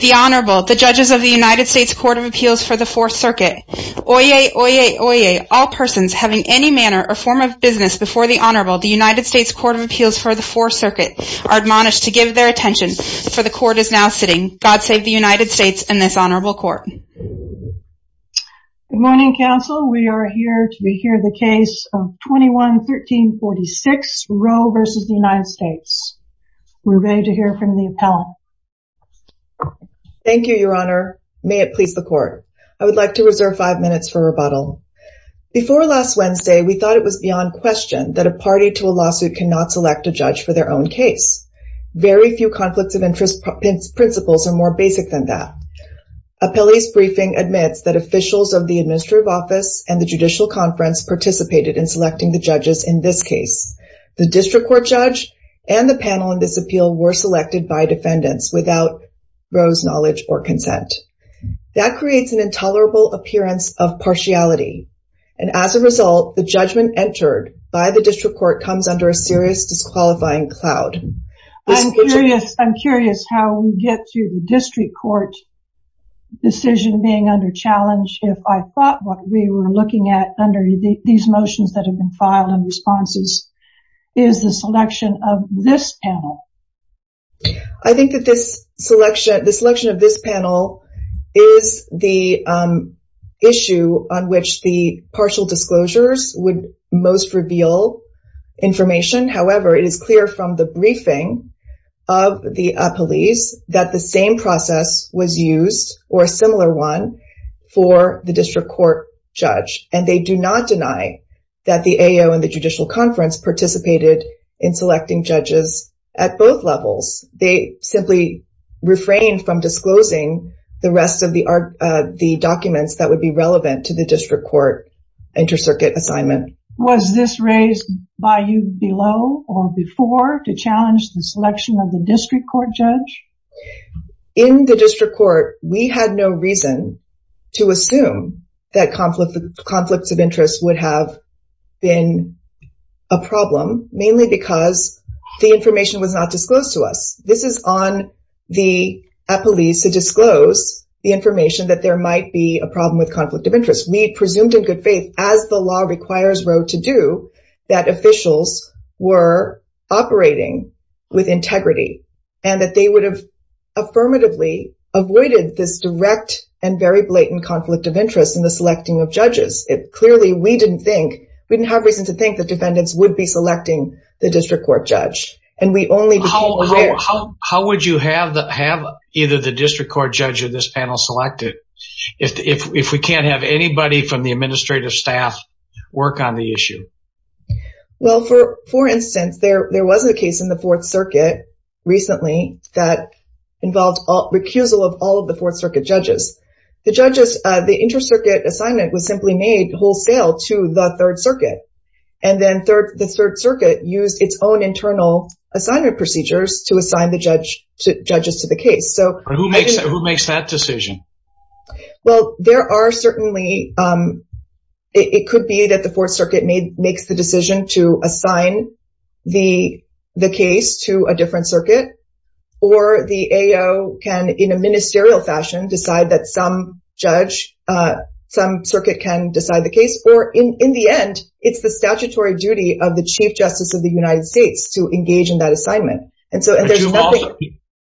The Honorable, the Judges of the United States Court of Appeals for the Fourth Circuit, Oyez, Oyez, Oyez, all persons having any manner or form of business before the Honorable, the United States Court of Appeals for the Fourth Circuit, are admonished to give their attention, for the Court is now sitting. God save the United States and this Honorable Court. Good morning, Council. We are here to hear the case of 21-1346, Roe v. United States. We're ready to hear from the appellant. Thank you, Your Honor. May it please the Court. I would like to reserve five minutes for rebuttal. Before last Wednesday, we thought it was beyond question that a party to a lawsuit cannot select a judge for their own case. Very few conflicts of interest principles are more basic than that. Appellee's briefing admits that officials of the administrative office and the judicial conference participated in selecting the judges in this case. The district court judge and the panel in this appeal were selected by defendants without Roe's knowledge or consent. That creates an intolerable appearance of partiality. And as a result, the judgment entered by the district court comes under a serious disqualifying cloud. I'm curious how we get to the district court decision being under challenge if I thought what we were looking at under these motions that have been filed and responses is the selection of this panel. I think that this selection of this panel is the issue on which the partial disclosures would most reveal information. However, it is clear from the briefing of the appellees that the same process was used or a similar one for the district court judge. And they do not deny that the AO and the judicial conference participated in selecting judges at both levels. They simply refrain from disclosing the rest of the documents that would be relevant to the district court inter-circuit assignment. Was this raised by you below or before to challenge the selection of the district court judge? In the district court, we had no reason to assume that conflicts of interest would have been a problem, mainly because the information was not disclosed to us. This is on the appellees to disclose the information that there might be a problem with conflict of interest. We presumed in good faith, as the law requires Roe to do, that officials were operating with integrity and that they would have affirmatively avoided this direct and very blatant conflict of interest in the selecting of judges. Clearly, we didn't have reason to think that defendants would be selecting the district court judge. How would you have either the district court judge or this panel selected if we can't have anybody from the administrative staff work on the recently that involved recusal of all of the Fourth Circuit judges? The judges, the inter-circuit assignment was simply made wholesale to the Third Circuit. And then the Third Circuit used its own internal assignment procedures to assign the judges to the case. Who makes that decision? Well, there are certainly, it could be that the Fourth Circuit makes the decision to assign the case to a different circuit, or the AO can in a ministerial fashion decide that some judge, some circuit can decide the case. Or in the end, it's the statutory duty of the Chief Justice of the United States to engage in that assignment.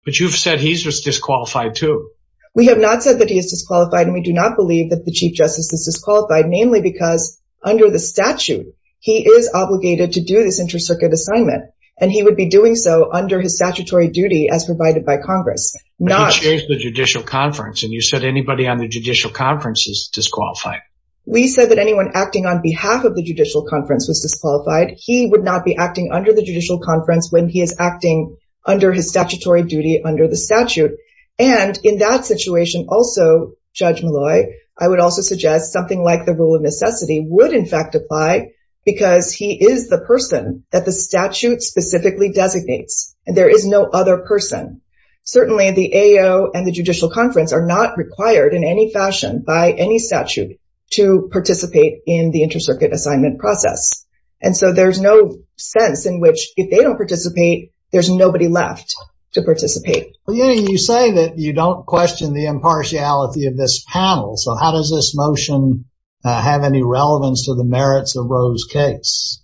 But you've said he's disqualified too. We have not said that he is disqualified and we do not believe that the Chief Justice is disqualified, namely because under the statute, he is obligated to do this inter-circuit assignment. And he would be doing so under his statutory duty as provided by Congress. He changed the judicial conference and you said anybody on the judicial conference is disqualified. We said that anyone acting on behalf of the judicial conference was disqualified. He would not be acting under the judicial conference when he is acting under his statutory duty under the statute. And in that situation also, Judge Malloy, I would also suggest something like the rule of necessity would in fact apply because he is the person that the statute specifically designates and there is no other person. Certainly the AO and the judicial conference are not required in any fashion by any statute to participate in the inter-circuit assignment process. And so there's no sense in which if they don't participate, there's nobody left to participate. Well, you say that you don't question the impartiality of this panel. So how does this motion have any relevance to the merits of Roe's case?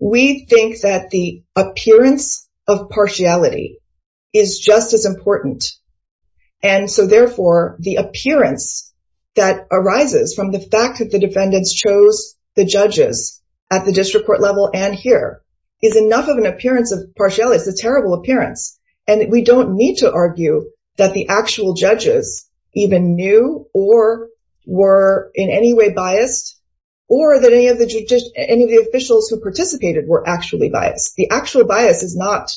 We think that the appearance of partiality is just as important. And so therefore, the appearance that arises from the fact that the defendants chose the judges at the district court level and here is enough of an appearance of partiality. It's a terrible appearance. And we don't need to argue that the actual judges even knew or were in any way biased or that any of the judges, any of the officials who participated were actually biased. The actual bias is not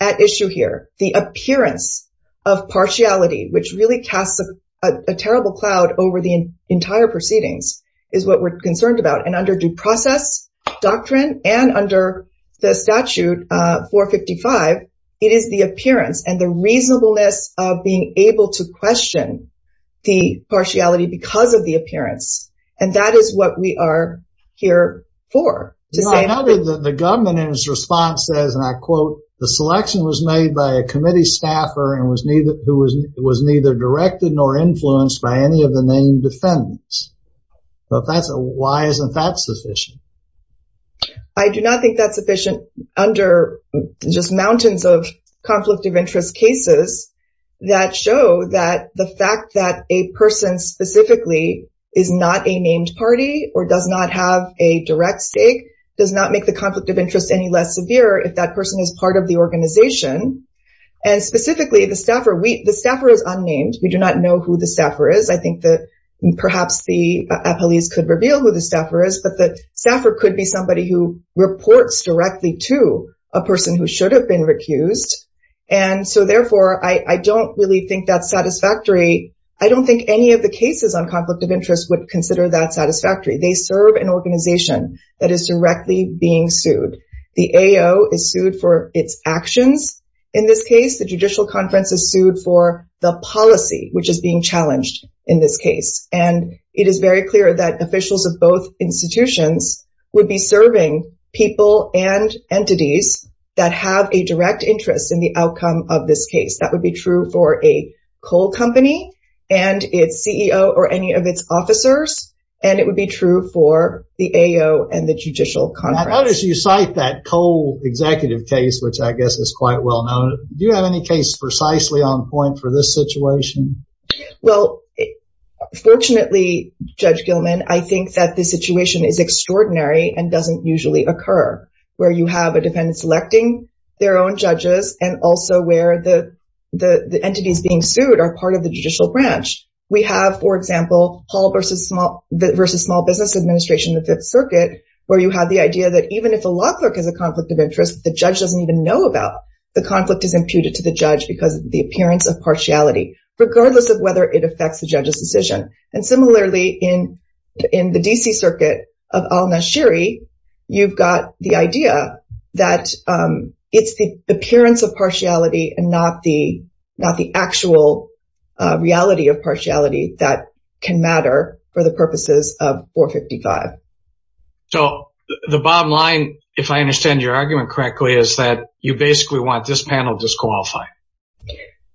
at issue here. The appearance of partiality, which really casts a terrible cloud over the entire proceedings is what we're concerned about. And under due process doctrine and under the statute 455, it is the appearance and the reasonableness of being able to question the partiality because of the appearance. And that is what we are here for. The government in its response says, and I quote, the selection was made by a committee staffer and was neither directed nor influenced by any of the named defendants. But why isn't that sufficient? I do not think that's sufficient under just mountains of conflict of interest cases that show that the fact that a person specifically is not a named party or does not have a direct stake does not make the conflict of interest any less severe if that person is part of the organization. And specifically, the staffer is unnamed. We do not know who the staffer is. I believe the police could reveal who the staffer is, but the staffer could be somebody who reports directly to a person who should have been recused. And so therefore, I don't really think that's satisfactory. I don't think any of the cases on conflict of interest would consider that satisfactory. They serve an organization that is directly being sued. The AO is sued for its actions. In this case, the judicial conference is sued for the policy, which is being challenged in this case. And it is very clear that officials of both institutions would be serving people and entities that have a direct interest in the outcome of this case. That would be true for a coal company and its CEO or any of its officers. And it would be true for the AO and the judicial conference. I noticed you cite that coal executive case, which I guess is quite well known. Do you have any case precisely on point for this situation? Well, fortunately, Judge Gilman, I think that the situation is extraordinary and doesn't usually occur, where you have a defendant selecting their own judges and also where the entities being sued are part of the judicial branch. We have, for example, Paul v. Small Business Administration, the Fifth Circuit, where you have the idea that even if a law clerk has a conflict of interest, the judge doesn't even know about, the conflict is imputed to the judge because of the appearance of partiality, regardless of whether it affects the judge's decision. And similarly, in the D.C. Circuit of Al-Nashiri, you've got the idea that it's the appearance of partiality and not the actual reality of partiality that can matter for the purposes of 455. So the bottom line, if I understand your argument correctly, is that you basically want this panel disqualified.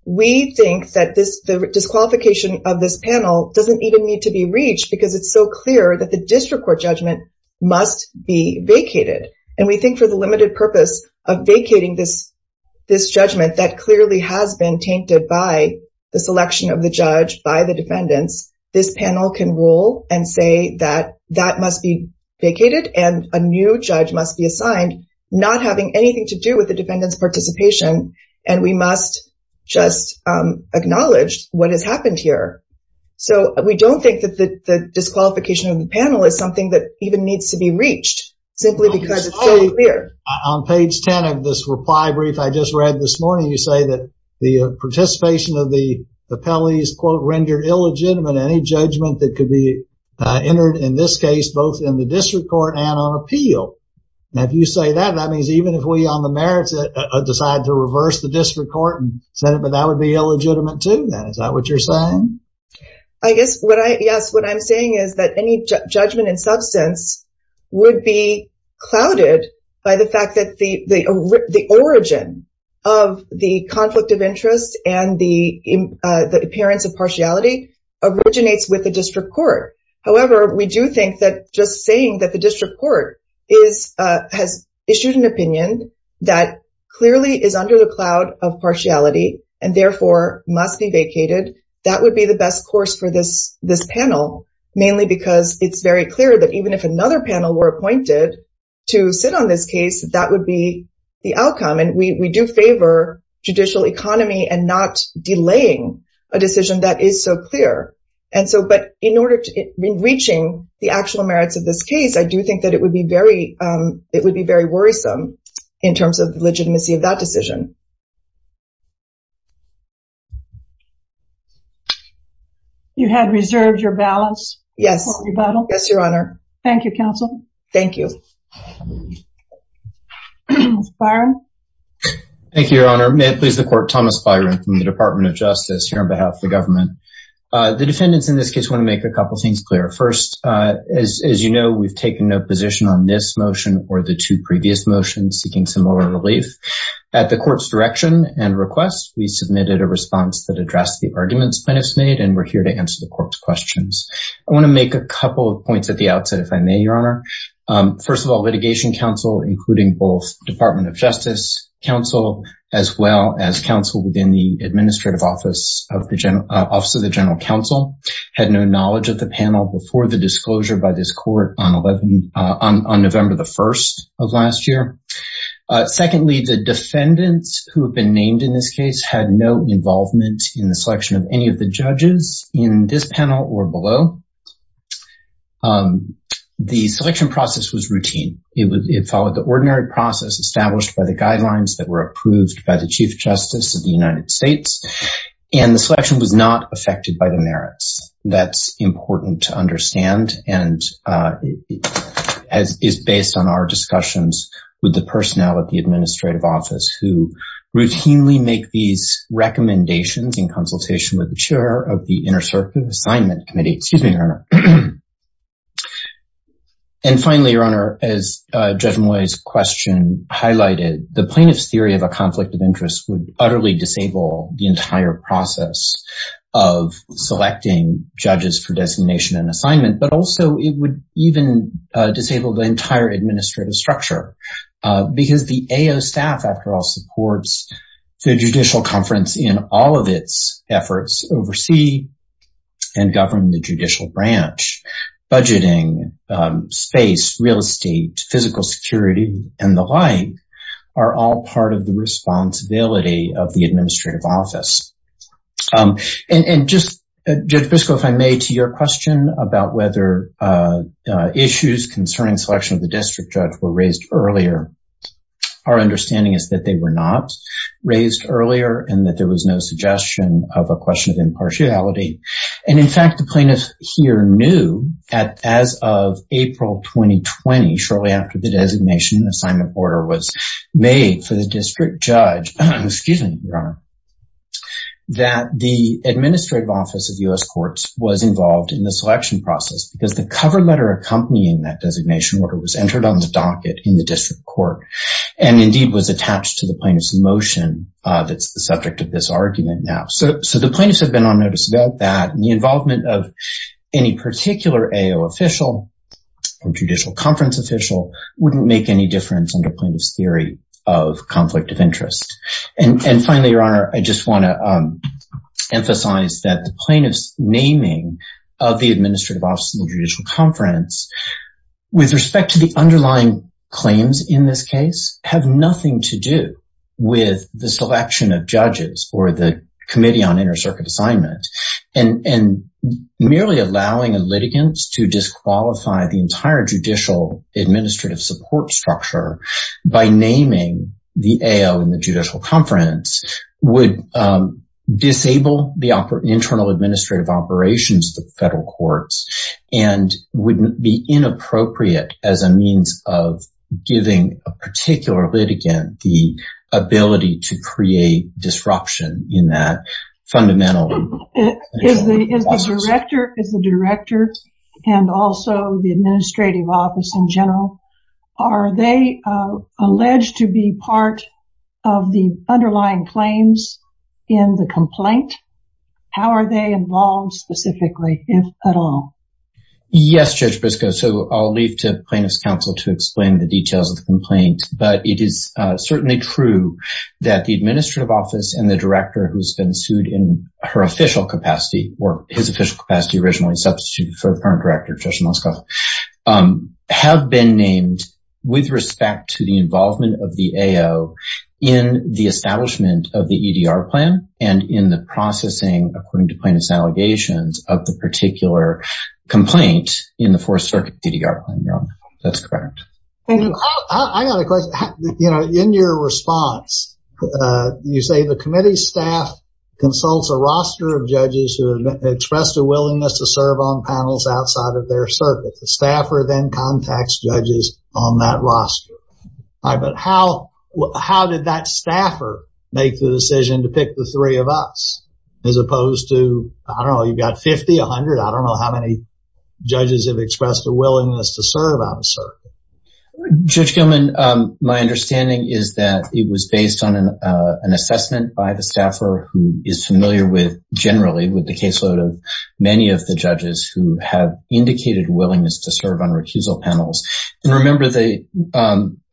We think that the disqualification of this panel doesn't even need to be reached because it's so clear that the district court judgment must be vacated. And we think for the limited purpose of vacating this judgment that clearly has been tainted by the selection of the judge, by the defendants, this panel can rule and say that that must be vacated and a new judge must be assigned, not having anything to do with the defendant's participation. And we must just acknowledge what has happened here. So we don't think that the disqualification of the panel is something that even needs to be reached simply because it's so clear. On page 10 of this reply I just read this morning, you say that the participation of the appellees, quote, rendered illegitimate. Any judgment that could be entered in this case, both in the district court and on appeal. Now, if you say that, that means even if we on the merits decide to reverse the district court and send it, but that would be illegitimate too. Is that what you're saying? I guess what I, yes, what I'm saying is that any judgment in substance would be clouded by the fact that the origin of the conflict of interest and the appearance of partiality originates with the district court. However, we do think that just saying that the district court has issued an opinion that clearly is under the cloud of partiality and therefore must be vacated, that would be the best course for this panel, mainly because it's very clear that even if another panel were appointed to sit on this case, that would be the outcome. And we do favor judicial economy and not delaying a decision that is so clear. And so, but in order to, in reaching the actual merits of this case, I do think that it would be very, it would be very worrisome in terms of the legitimacy of that decision. You had reserved your balance? Yes. Yes, Your Honor. Thank you, counsel. Thank you. Thomas Byron. Thank you, Your Honor. May it please the court, Thomas Byron from the Department of Justice here on behalf of the government. The defendants in this case want to make a couple things clear. First, as you know, we've taken no position on this motion or the two previous requests. We submitted a response that addressed the arguments plaintiffs made, and we're here to answer the court's questions. I want to make a couple of points at the outset, if I may, Your Honor. First of all, litigation counsel, including both Department of Justice counsel, as well as counsel within the administrative office of the General, Office of the General Counsel, had no knowledge of the panel before the disclosure by this court on November the 1st of last year. Secondly, the defendants who have been named in this case had no involvement in the selection of any of the judges in this panel or below. The selection process was routine. It followed the ordinary process established by the guidelines that were approved by the Chief Justice of the United States, and the selection was not affected by the merits. That's important to understand, and is based on our discussions with the personnel at the administrative office who routinely make these recommendations in consultation with the Chair of the Intercircuitous Assignment Committee. Excuse me, Your Honor. Finally, Your Honor, as Judge Moy's question highlighted, the plaintiff's theory of a conflict of interest would utterly disable the entire process of selecting judges for the Judicial Conference. And also, it would even disable the entire administrative structure, because the AO staff, after all, supports the Judicial Conference in all of its efforts, oversee and govern the judicial branch. Budgeting, space, real estate, physical security, and the like are all part of the responsibility of the administrative office. And just, Judge Briscoe, if I may, to your question about whether issues concerning selection of the district judge were raised earlier, our understanding is that they were not raised earlier, and that there was no suggestion of a question of impartiality. And in fact, the plaintiff here knew that as of April 2020, shortly after the designation assignment order was made for the district judge, excuse me, Your Honor, that the administrative office of U.S. Courts was involved in the selection process, because the cover letter accompanying that designation order was entered on the docket in the district court, and indeed was attached to the plaintiff's motion that's the subject of this argument now. So the plaintiffs have been on notice about that, and the involvement of any particular AO official or judicial conference official wouldn't make any difference in the plaintiff's theory of conflict of interest. And finally, Your Honor, I just want to emphasize that the plaintiff's naming of the administrative office of the judicial conference, with respect to the underlying claims in this case, have nothing to do with the selection of judges for the committee on entire judicial administrative support structure. By naming the AO in the judicial conference would disable the internal administrative operations of the federal courts, and wouldn't be inappropriate as a means of giving a particular litigant the ability to create disruption in that jurisdiction. Thank you, Judge Briscoe. The administrative office in general, are they alleged to be part of the underlying claims in the complaint? How are they involved specifically, if at all? Yes, Judge Briscoe. So I'll leave to plaintiff's counsel to explain the details of the complaint, but it is certainly true that the administrative office and the director who's been sued in her official capacity, or his official capacity originally substituted for the current director, Judge Moskov, have been named with respect to the involvement of the AO in the establishment of the EDR plan, and in the processing, according to plaintiff's allegations, of the particular complaint in the Fourth Circuit EDR plan, Your Honor. That's correct. Thank you. I got a question. You know, in your response, you say the committee staff consults a roster of judges who have expressed a willingness to serve on panels outside of their circuit. The staffer then contacts judges on that roster. All right, but how did that staffer make the decision to pick the three of us, as opposed to, I don't know, you've got 50, 100, I don't know how many judges have expressed a willingness to serve on a circuit. Judge Gilman, my understanding is that it was based on an assessment by the staffer who is familiar with, generally, with the caseload of many of the judges who have indicated willingness to serve on recusal panels. And remember, the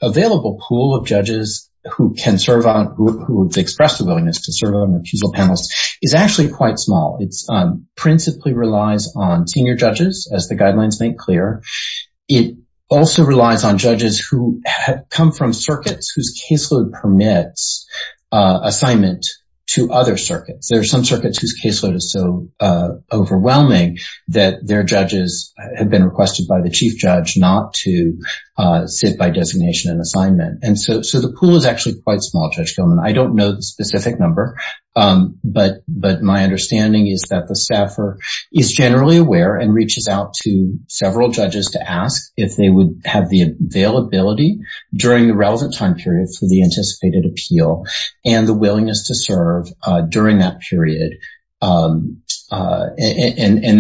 available pool of judges who can serve on, who have expressed a willingness to serve on recusal panels is actually quite small. It also relies on judges who come from circuits whose caseload permits assignment to other circuits. There are some circuits whose caseload is so overwhelming that their judges have been requested by the chief judge not to sit by designation and assignment. And so the pool is actually quite small, Judge Gilman. I don't know the specific number, but my understanding is that the staffer is generally aware and reaches out to several judges to ask if they would have the availability during the relevant time period for the anticipated appeal and the willingness to serve during that period. And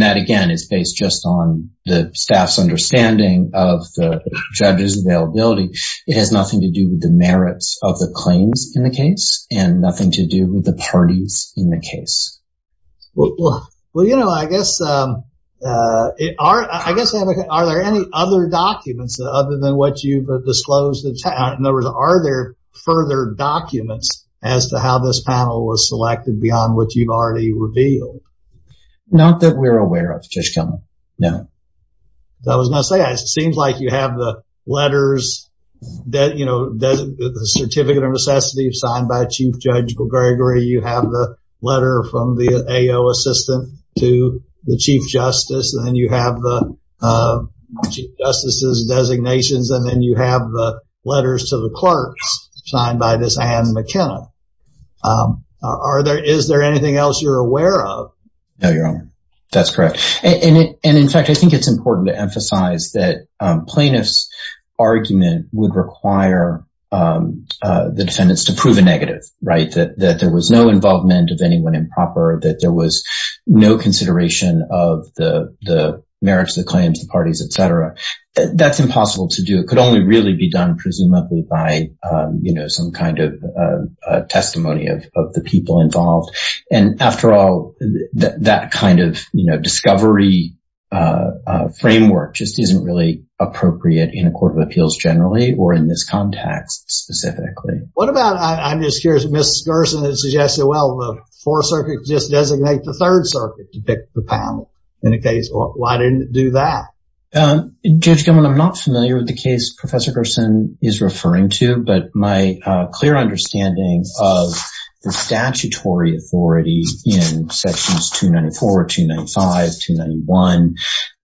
that, again, is based just on the staff's understanding of the judge's availability. It has nothing to do with the merits of the claims in the case and nothing to do with the parties in the case. Well, you know, I guess, I guess, are there any other documents other than what you've disclosed? In other words, are there further documents as to how this panel was selected beyond what you've already revealed? Not that we're aware of, Judge Gilman. No. I was going to say, it seems like you have the Certificate of Necessity signed by Chief Judge Gregory. You have the letter from the AO assistant to the Chief Justice. And then you have the Chief Justice's designations. And then you have the letters to the clerks signed by this Anne McKenna. Is there anything else you're aware of? No, Your Honor. That's correct. And in fact, I think it's important to emphasize that the plaintiff's argument would require the defendants to prove a negative, right? That there was no involvement of anyone improper, that there was no consideration of the merits, the claims, the parties, et cetera. That's impossible to do. It could only really be done, presumably, by, you know, some kind of testimony of the people involved. And after all, that kind of, you know, in a court of appeals generally, or in this context specifically. What about, I'm just curious, Ms. Gerson has suggested, well, the Fourth Circuit just designate the Third Circuit to pick the panel. In a case, why didn't it do that? Judge Gilman, I'm not familiar with the case Professor Gerson is referring to, but my clear understanding of the statutory authority in sections 294, 295, 291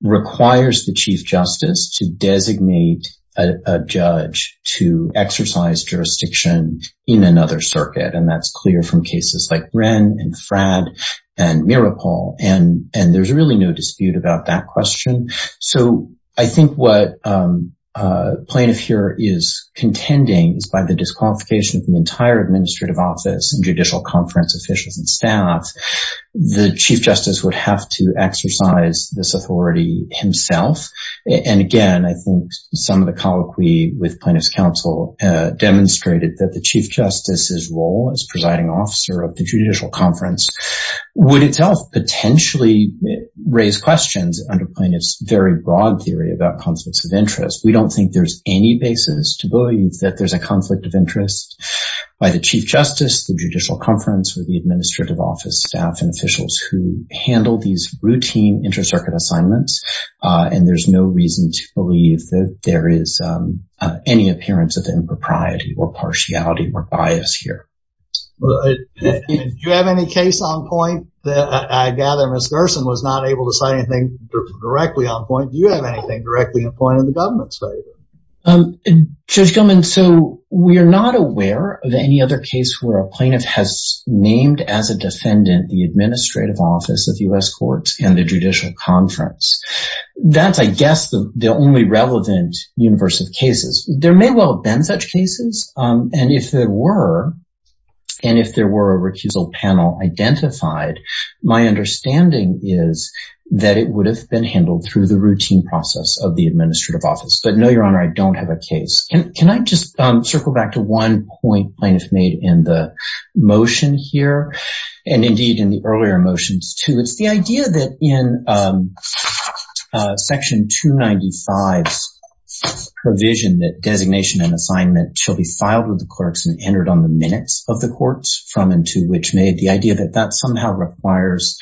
requires the Chief Justice to designate a judge to exercise jurisdiction in another circuit. And that's clear from cases like Wren and Fradd and Miropol. And there's really no dispute about that question. So I think what plaintiff here is contending is by the disqualification of the entire administrative office and judicial conference officials and staff, the Chief Justice would have to exercise this authority himself. And again, I think some of the colloquy with plaintiff's counsel demonstrated that the Chief Justice's role as presiding officer of the judicial conference would itself potentially raise questions under plaintiff's very broad theory about conflicts of interest. We don't think there's any basis to believe that there's a conflict of interest by the Chief Justice, the judicial conference, or the administrative office staff and officials who handle these routine inter-circuit assignments. And there's no reason to believe that there is any appearance of impropriety or partiality or bias here. Do you have any case on point that I gather Ms. Gerson was not able to say anything directly on point? Do you have anything directly on point in the government's favor? Judge Gilman, so we are not aware of any other case where a plaintiff has named as a defendant the administrative office of U.S. courts and the judicial conference. That's, I guess, the only relevant universe of cases. There may well have been such cases. And if there were, and if there were a recusal panel identified, my understanding is that it would have been handled through the routine process of the administrative office. But no, Your Honor, I don't have a case. Can I just circle back to one point plaintiff made in the motion here, and indeed in the earlier motions too. It's the idea that in Section 295's provision that designation and assignment shall be filed with the clerks and entered on the minutes of the courts from and to which made. The idea that that somehow requires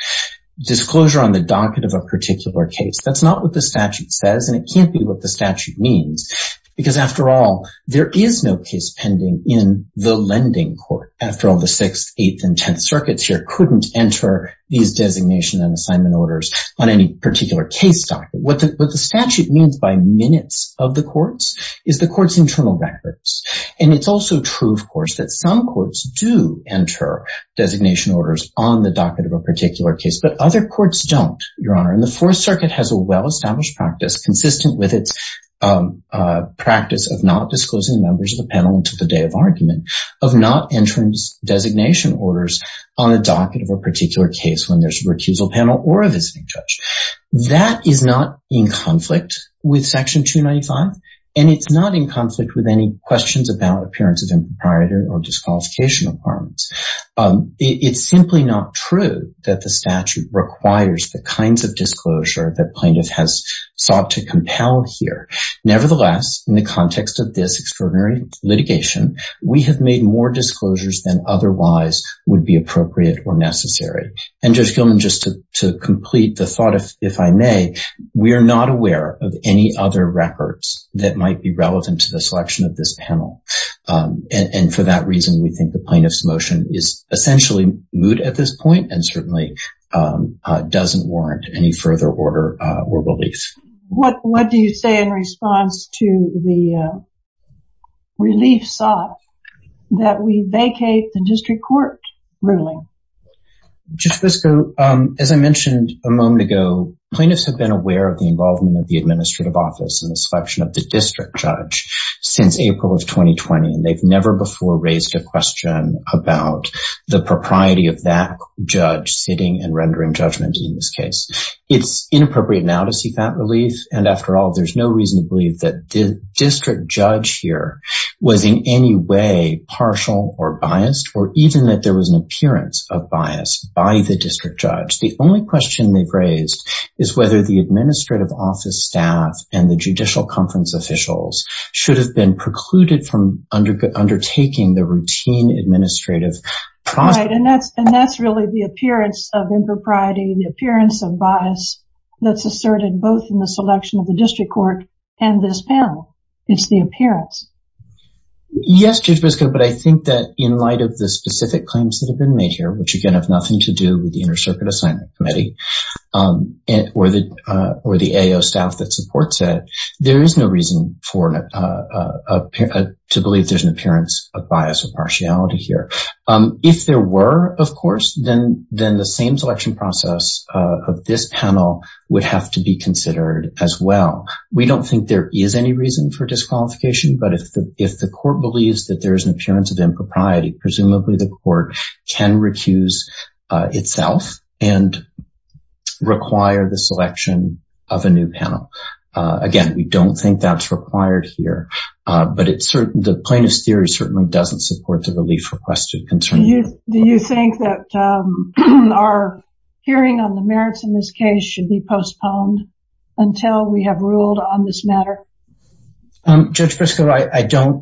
disclosure on the docket of a particular case. That's not what the statute says, and it can't be what the statute means. Because after all, there is no case pending in the lending court. After all, the 6th, 8th, and 10th circuits here couldn't enter these designation and assignment orders on any particular case docket. What the statute means by minutes of the courts is the court's internal records. And it's also true, of course, that some courts do enter designation orders on the docket of a particular case, but other courts don't, Your Honor. And the Fourth Circuit is consistent with its practice of not disclosing members of the panel until the day of argument, of not entering designation orders on the docket of a particular case when there's a recusal panel or a visiting judge. That is not in conflict with Section 295, and it's not in conflict with any questions about appearance of an improprietor or disqualification requirements. It's simply not true that the statute requires the kinds of disclosure that plaintiff has sought to compel here. Nevertheless, in the context of this extraordinary litigation, we have made more disclosures than otherwise would be appropriate or necessary. And Judge Gilman, just to complete the thought, if I may, we are not aware of any other records that might be relevant to the selection of this panel. And for that reason, we think the plaintiff's motion is essentially moot at this point and certainly doesn't warrant any further order or relief. What do you say in response to the relief sought that we vacate the district court ruling? Judge Fisco, as I mentioned a moment ago, plaintiffs have been aware of the involvement of the administrative office and the selection of the district judge since April of 2020. And they've never before raised a question about the propriety of that judge sitting and rendering judgment in this case. It's inappropriate now to seek that relief. And after all, there's no reason to believe that the district judge here was in any way partial or biased, or even that there was an appearance of bias by the district judge. The only question they've raised is whether the administrative office staff and the judicial conference officials should have been precluded from undertaking the routine administrative process. Right, and that's really the appearance of impropriety, the appearance of bias that's asserted both in the selection of the district court and this panel. It's the appearance. Yes, Judge Fisco, but I think that in light of the specific claims that have been made here, which again have nothing to do with the Inter-Circuit Assignment Committee, or the AO staff that supports it, there is no reason to believe there's an appearance of bias or partiality here. If there were, of course, then the same selection process of this panel would have to be considered as well. We don't think there is any reason for disqualification, but if the court believes that there is an appearance of impropriety, presumably the court can recuse itself and require the selection of a new panel. Again, we don't think that's required here, but the plaintiff's theory certainly doesn't support the relief requested concern. Do you think that our hearing on the merits in this case should be postponed until we have ruled on this matter? Judge Fisco,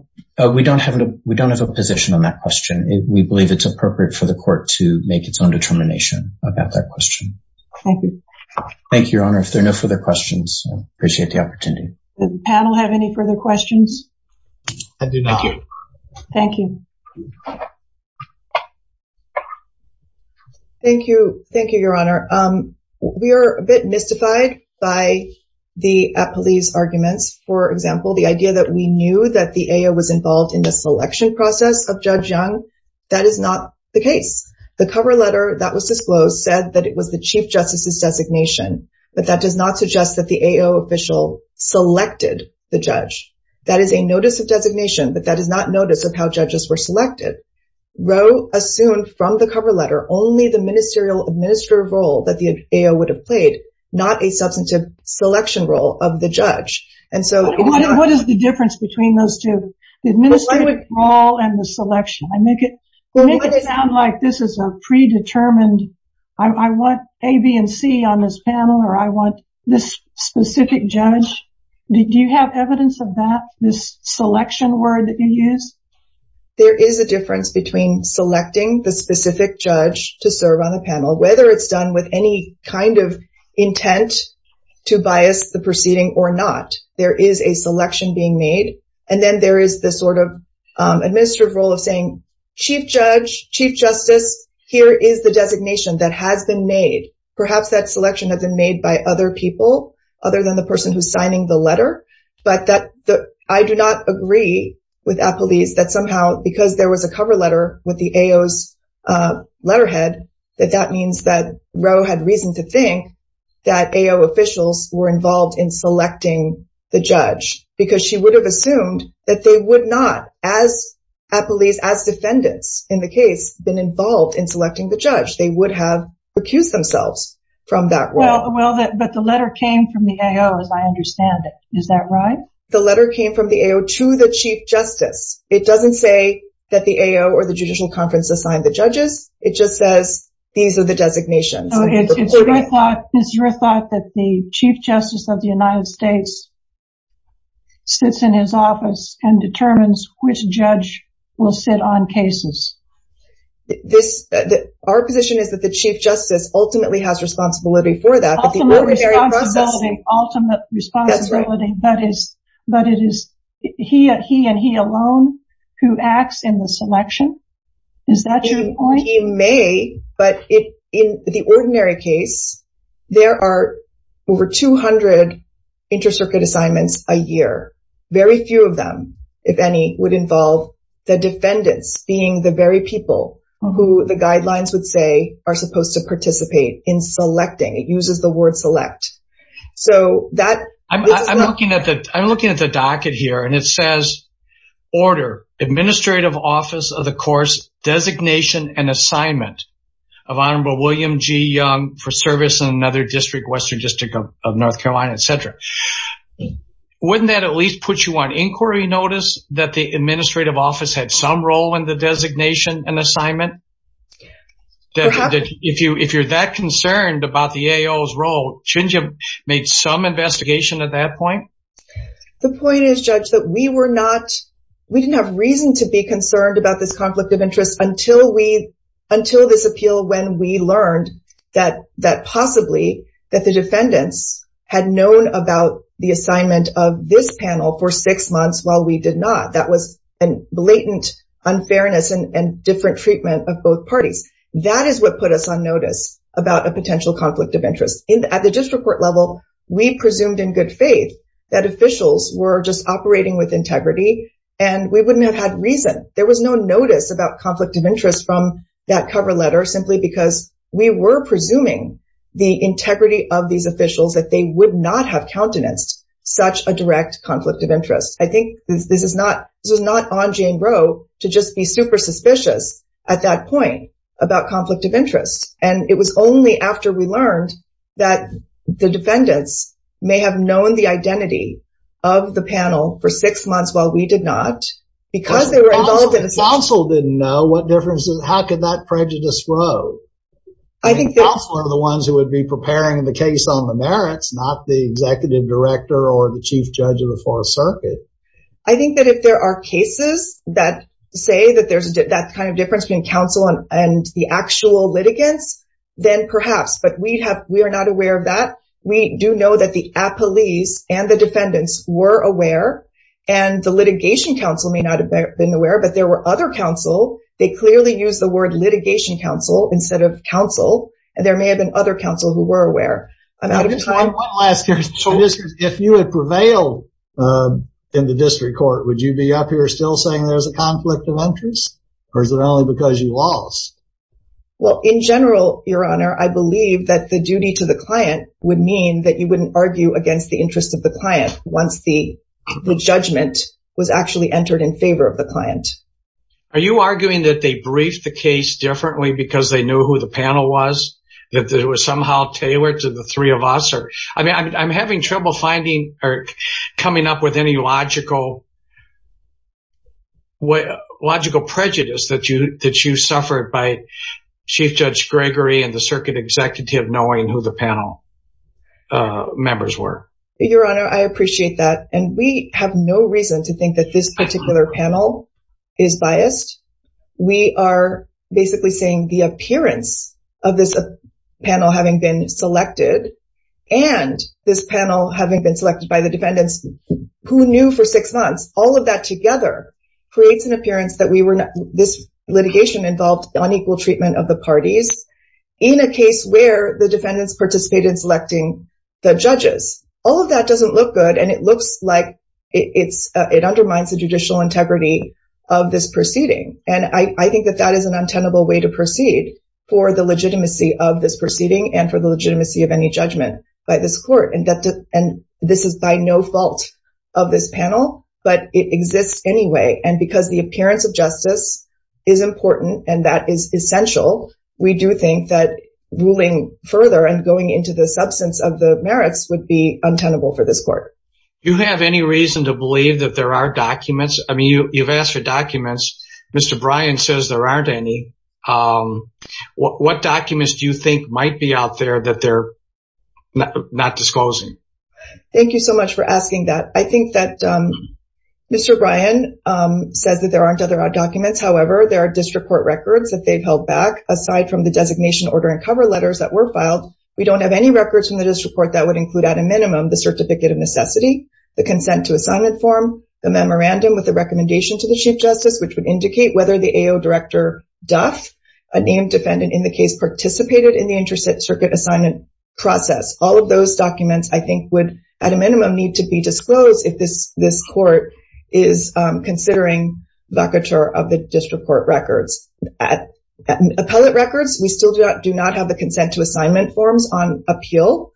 we don't have a position on that question. We believe it's appropriate for the court to make its own determination about that question. Thank you. Thank you, Your Honor. If there are no further questions, I appreciate the opportunity. Does the panel have any further questions? I do not. Thank you. Thank you. Thank you, Your Honor. We are a bit mystified by the police arguments. For example, the idea that we knew that the AO was involved in the selection process of Judge Young, that is not the case. The cover letter that was disclosed said that it was the Chief Justice's designation, but that does not suggest that the AO official selected the judge. That is a notice of designation, but that is not notice of how judges were selected. Roe assumed from the cover letter only the ministerial administrative role that the AO would have played, not a substantive selection role of the judge. What is the difference between those two, the administrative role and the selection? I make it sound like this is a predetermined, I want A, B, and C on this panel, or I want this specific judge. Do you have evidence of that, this selection word that you use? There is a difference between selecting the specific judge to serve on the panel, whether it's done with any kind of intent to bias the proceeding or not. There is a selection being made, and then there is this sort of administrative role of saying, Chief Judge, Chief Justice, here is the designation that has been made. Perhaps that selection has been made by other people other than the person who's signing the letter, but I do not agree with AO's letterhead that that means that Roe had reason to think that AO officials were involved in selecting the judge, because she would have assumed that they would not, as a police, as defendants in the case, been involved in selecting the judge. They would have accused themselves from that role. But the letter came from the AO, as I understand it. Is that right? The letter came from the AO to the Chief Justice. It doesn't say that the AO or the Judicial Conference assigned the judges. It just says, these are the designations. So, it's your thought that the Chief Justice of the United States sits in his office and determines which judge will sit on cases. Our position is that the Chief Justice ultimately has responsibility for that. Ultimate responsibility, but it is he and he alone who acts in the selection. Is that your point? He may, but in the ordinary case, there are over 200 inter-circuit assignments a year. Very few of them, if any, would involve the defendants being the very people who the guidelines would say are supposed to participate in selecting. It uses the word select. So, that... I'm looking at the docket here and it says, Order, Administrative Office of the Course, Designation and Assignment of Honorable William G. Young for service in another district, Western District of North Carolina, etc. Wouldn't that at least put you on inquiry notice that the Administrative Office had some role in the designation and assignment? If you're that concerned about the AO's role, shouldn't you make some investigation at that point? The point is, Judge, that we were not... We didn't have reason to be concerned about this conflict of interest until this appeal, when we learned that possibly the defendants had known about the assignment of this panel for six months while we did not. That was a blatant unfairness and different treatment of both parties. That is what put us on notice about a potential conflict of interest. At the district court level, we presumed in good faith that officials were just operating with integrity and we wouldn't have had reason. There was no notice about conflict of interest from that cover letter simply because we were presuming the integrity of these officials, that they would not have countenanced such a direct conflict of interest. I think this was not on Jane Roe to just be super suspicious at that point about conflict of interest. It was only after we learned that the defendants may have known the identity of the panel for six months while we did not, because they were involved in... If counsel didn't know, what difference... How could that prejudice grow? I think that... Counsel are the ones who would be preparing the case on the merits, not the executive director or the chief judge of the Fourth Circuit. I think that if there are cases that say that there's that kind of difference between counsel and the actual litigants, then perhaps, but we are not aware of that. We do know that the appellees and the defendants were aware, and the litigation counsel may not have been aware, but there were other counsel. They clearly used the word litigation counsel instead of counsel, and there may have been other counsel who were aware. I'm out of time. I just want to ask you this. If you had prevailed in the district court, would you be up here still saying there's a conflict of interest? Or is it only because you lost? Well, in general, Your Honor, I believe that the duty to the client would mean that you wouldn't argue against the interest of the client once the judgment was actually entered in favor of the client. Are you arguing that they briefed the case differently because they knew who the panel was? That it was somehow tailored to the three of us? I mean, I'm having trouble finding or logical prejudice that you suffered by Chief Judge Gregory and the circuit executive knowing who the panel members were. Your Honor, I appreciate that, and we have no reason to think that this particular panel is biased. We are basically saying the appearance of this panel having been selected, and this panel having been selected by the defendants who knew for six months, all of that together creates an appearance that this litigation involved unequal treatment of the parties in a case where the defendants participated in selecting the judges. All of that doesn't look good, and it looks like it undermines the judicial integrity of this proceeding, and I think that that is an untenable way to proceed for the legitimacy of this proceeding and for the legitimacy of any judgment by this court. And this is by no fault of this panel, but it exists anyway, and because the appearance of justice is important and that is essential, we do think that ruling further and going into the substance of the merits would be untenable for this court. Do you have any reason to believe that there are documents? I mean, you've asked for documents. Mr. Bryan says there aren't any. What documents do you think might be out there that they're not disclosing? Thank you so much for asking that. I think that Mr. Bryan says that there aren't other documents. However, there are district court records that they've held back. Aside from the designation order and cover letters that were filed, we don't have any records from the district court that would include at a minimum the certificate of necessity, the consent to assignment form, the memorandum with the whether the AO director Duff, a named defendant in the case, participated in the interstate circuit assignment process. All of those documents, I think, would, at a minimum, need to be disclosed if this court is considering locator of the district court records. Appellate records, we still do not have the consent to assignment forms on appeal.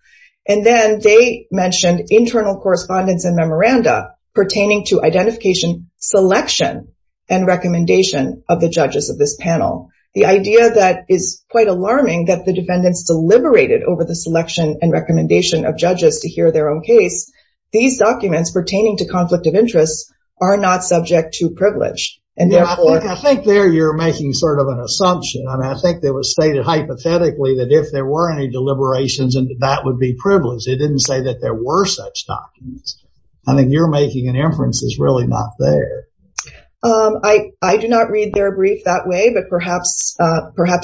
And then they mentioned internal correspondence and memoranda pertaining to identification, selection, and recommendation of the judges of this panel. The idea that is quite alarming that the defendants deliberated over the selection and recommendation of judges to hear their own case. These documents pertaining to conflict of interest are not subject to privilege. And therefore, I think there you're making sort of an assumption. And I think that was stated hypothetically that if there were any deliberations and that would be privileged, it didn't say that there were such documents. I think you're making an inference is really not there. I do not read their brief that way, but perhaps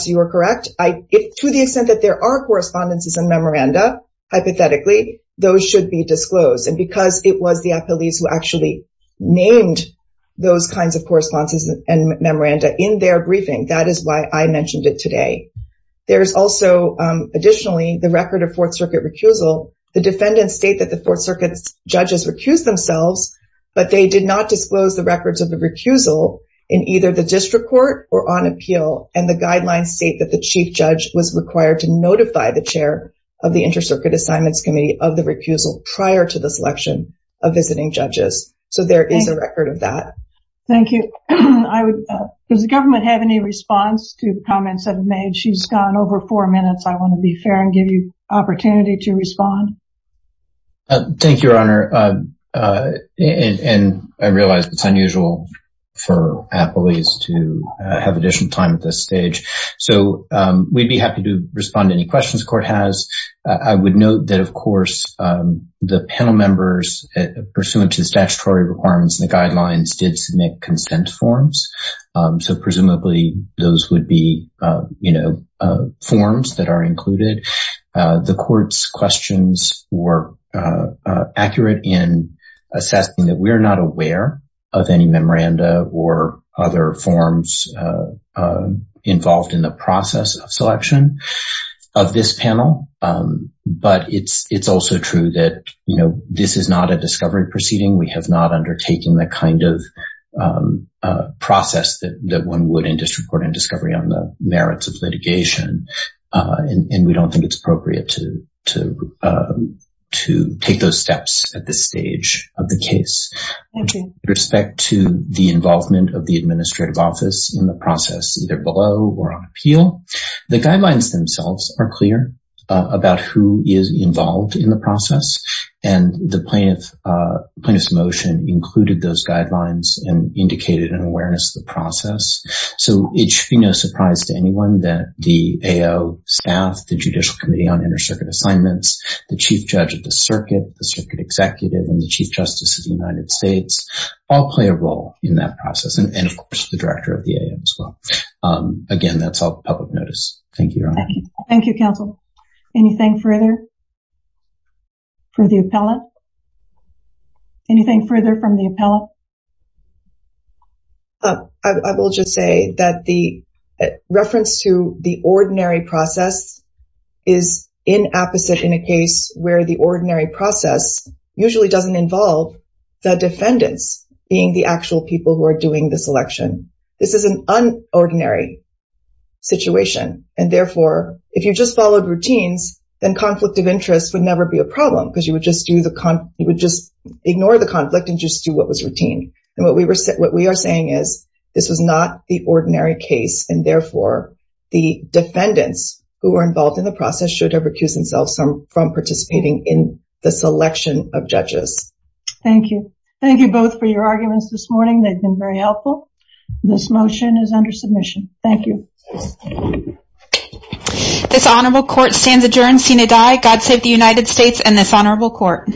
you are correct. To the extent that there are correspondences and memoranda, hypothetically, those should be disclosed. And because it was the appellees who actually named those kinds of correspondences and memoranda in their briefing, that is why I mentioned it today. There's also, additionally, the record of Fourth Circuit recusal. The defendants state that the Fourth Circuit's judges recused themselves, but they did not disclose the records of the recusal in either the district court or on appeal. And the guidelines state that the chief judge was required to notify the chair of the Inter-Circuit Assignments Committee of the recusal prior to the selection of visiting judges. So there is a record of that. Thank you. Does the government have any response to the comments that have been made? She's gone over four minutes. I want to be fair and give you an opportunity to respond. Thank you, Your Honor. And I realize it's unusual for appellees to have additional time at this stage. So we'd be happy to respond to any questions the court has. I would note that, of course, the panel members, pursuant to the statutory requirements and the guidelines, did submit consent forms. So presumably those would be, you know, forms that are included. The court's questions were accurate in assessing that we're not aware of any memoranda or other forms involved in the process of selection of this panel. But it's also true that, you know, this is not a discovery proceeding. We have not undertaken the kind of process that one would in district court and discovery on the merits of litigation. And we don't think it's appropriate to take those steps at this stage of the case. With respect to the involvement of the administrative office in the process, either below or on appeal, the guidelines themselves are clear about who is involved in the process and the plaintiff's motion included those guidelines and indicated an awareness of the process. So it should be no surprise to anyone that the AO staff, the Judicial Committee on Inter-Circuit Assignments, the Chief Judge of the Circuit, the Circuit Executive, and the Chief Justice of the United States all play a role in that process. And of course, the Director of the AO as well. Again, that's all public notice. Thank you, Your Honor. Thank you, counsel. Anything further? For the appellant? Anything further from the appellant? I will just say that the reference to the ordinary process is inapposite in a case where the ordinary process usually doesn't involve the defendants being the actual people who are doing this election. This is an unordinary situation. And therefore, if you just followed routines, then conflict of interest would never be a problem because you would just ignore the conflict and just do what was routine. And what we are saying is this was not the ordinary case. And therefore, the defendants who were involved in the process should have recused themselves from participating in the selection of judges. Thank you. Thank you both for your arguments this morning. They've been very helpful. This motion is under submission. Thank you. Thank you. This honorable court stands adjourned. Seen and die. God save the United States and this honorable court.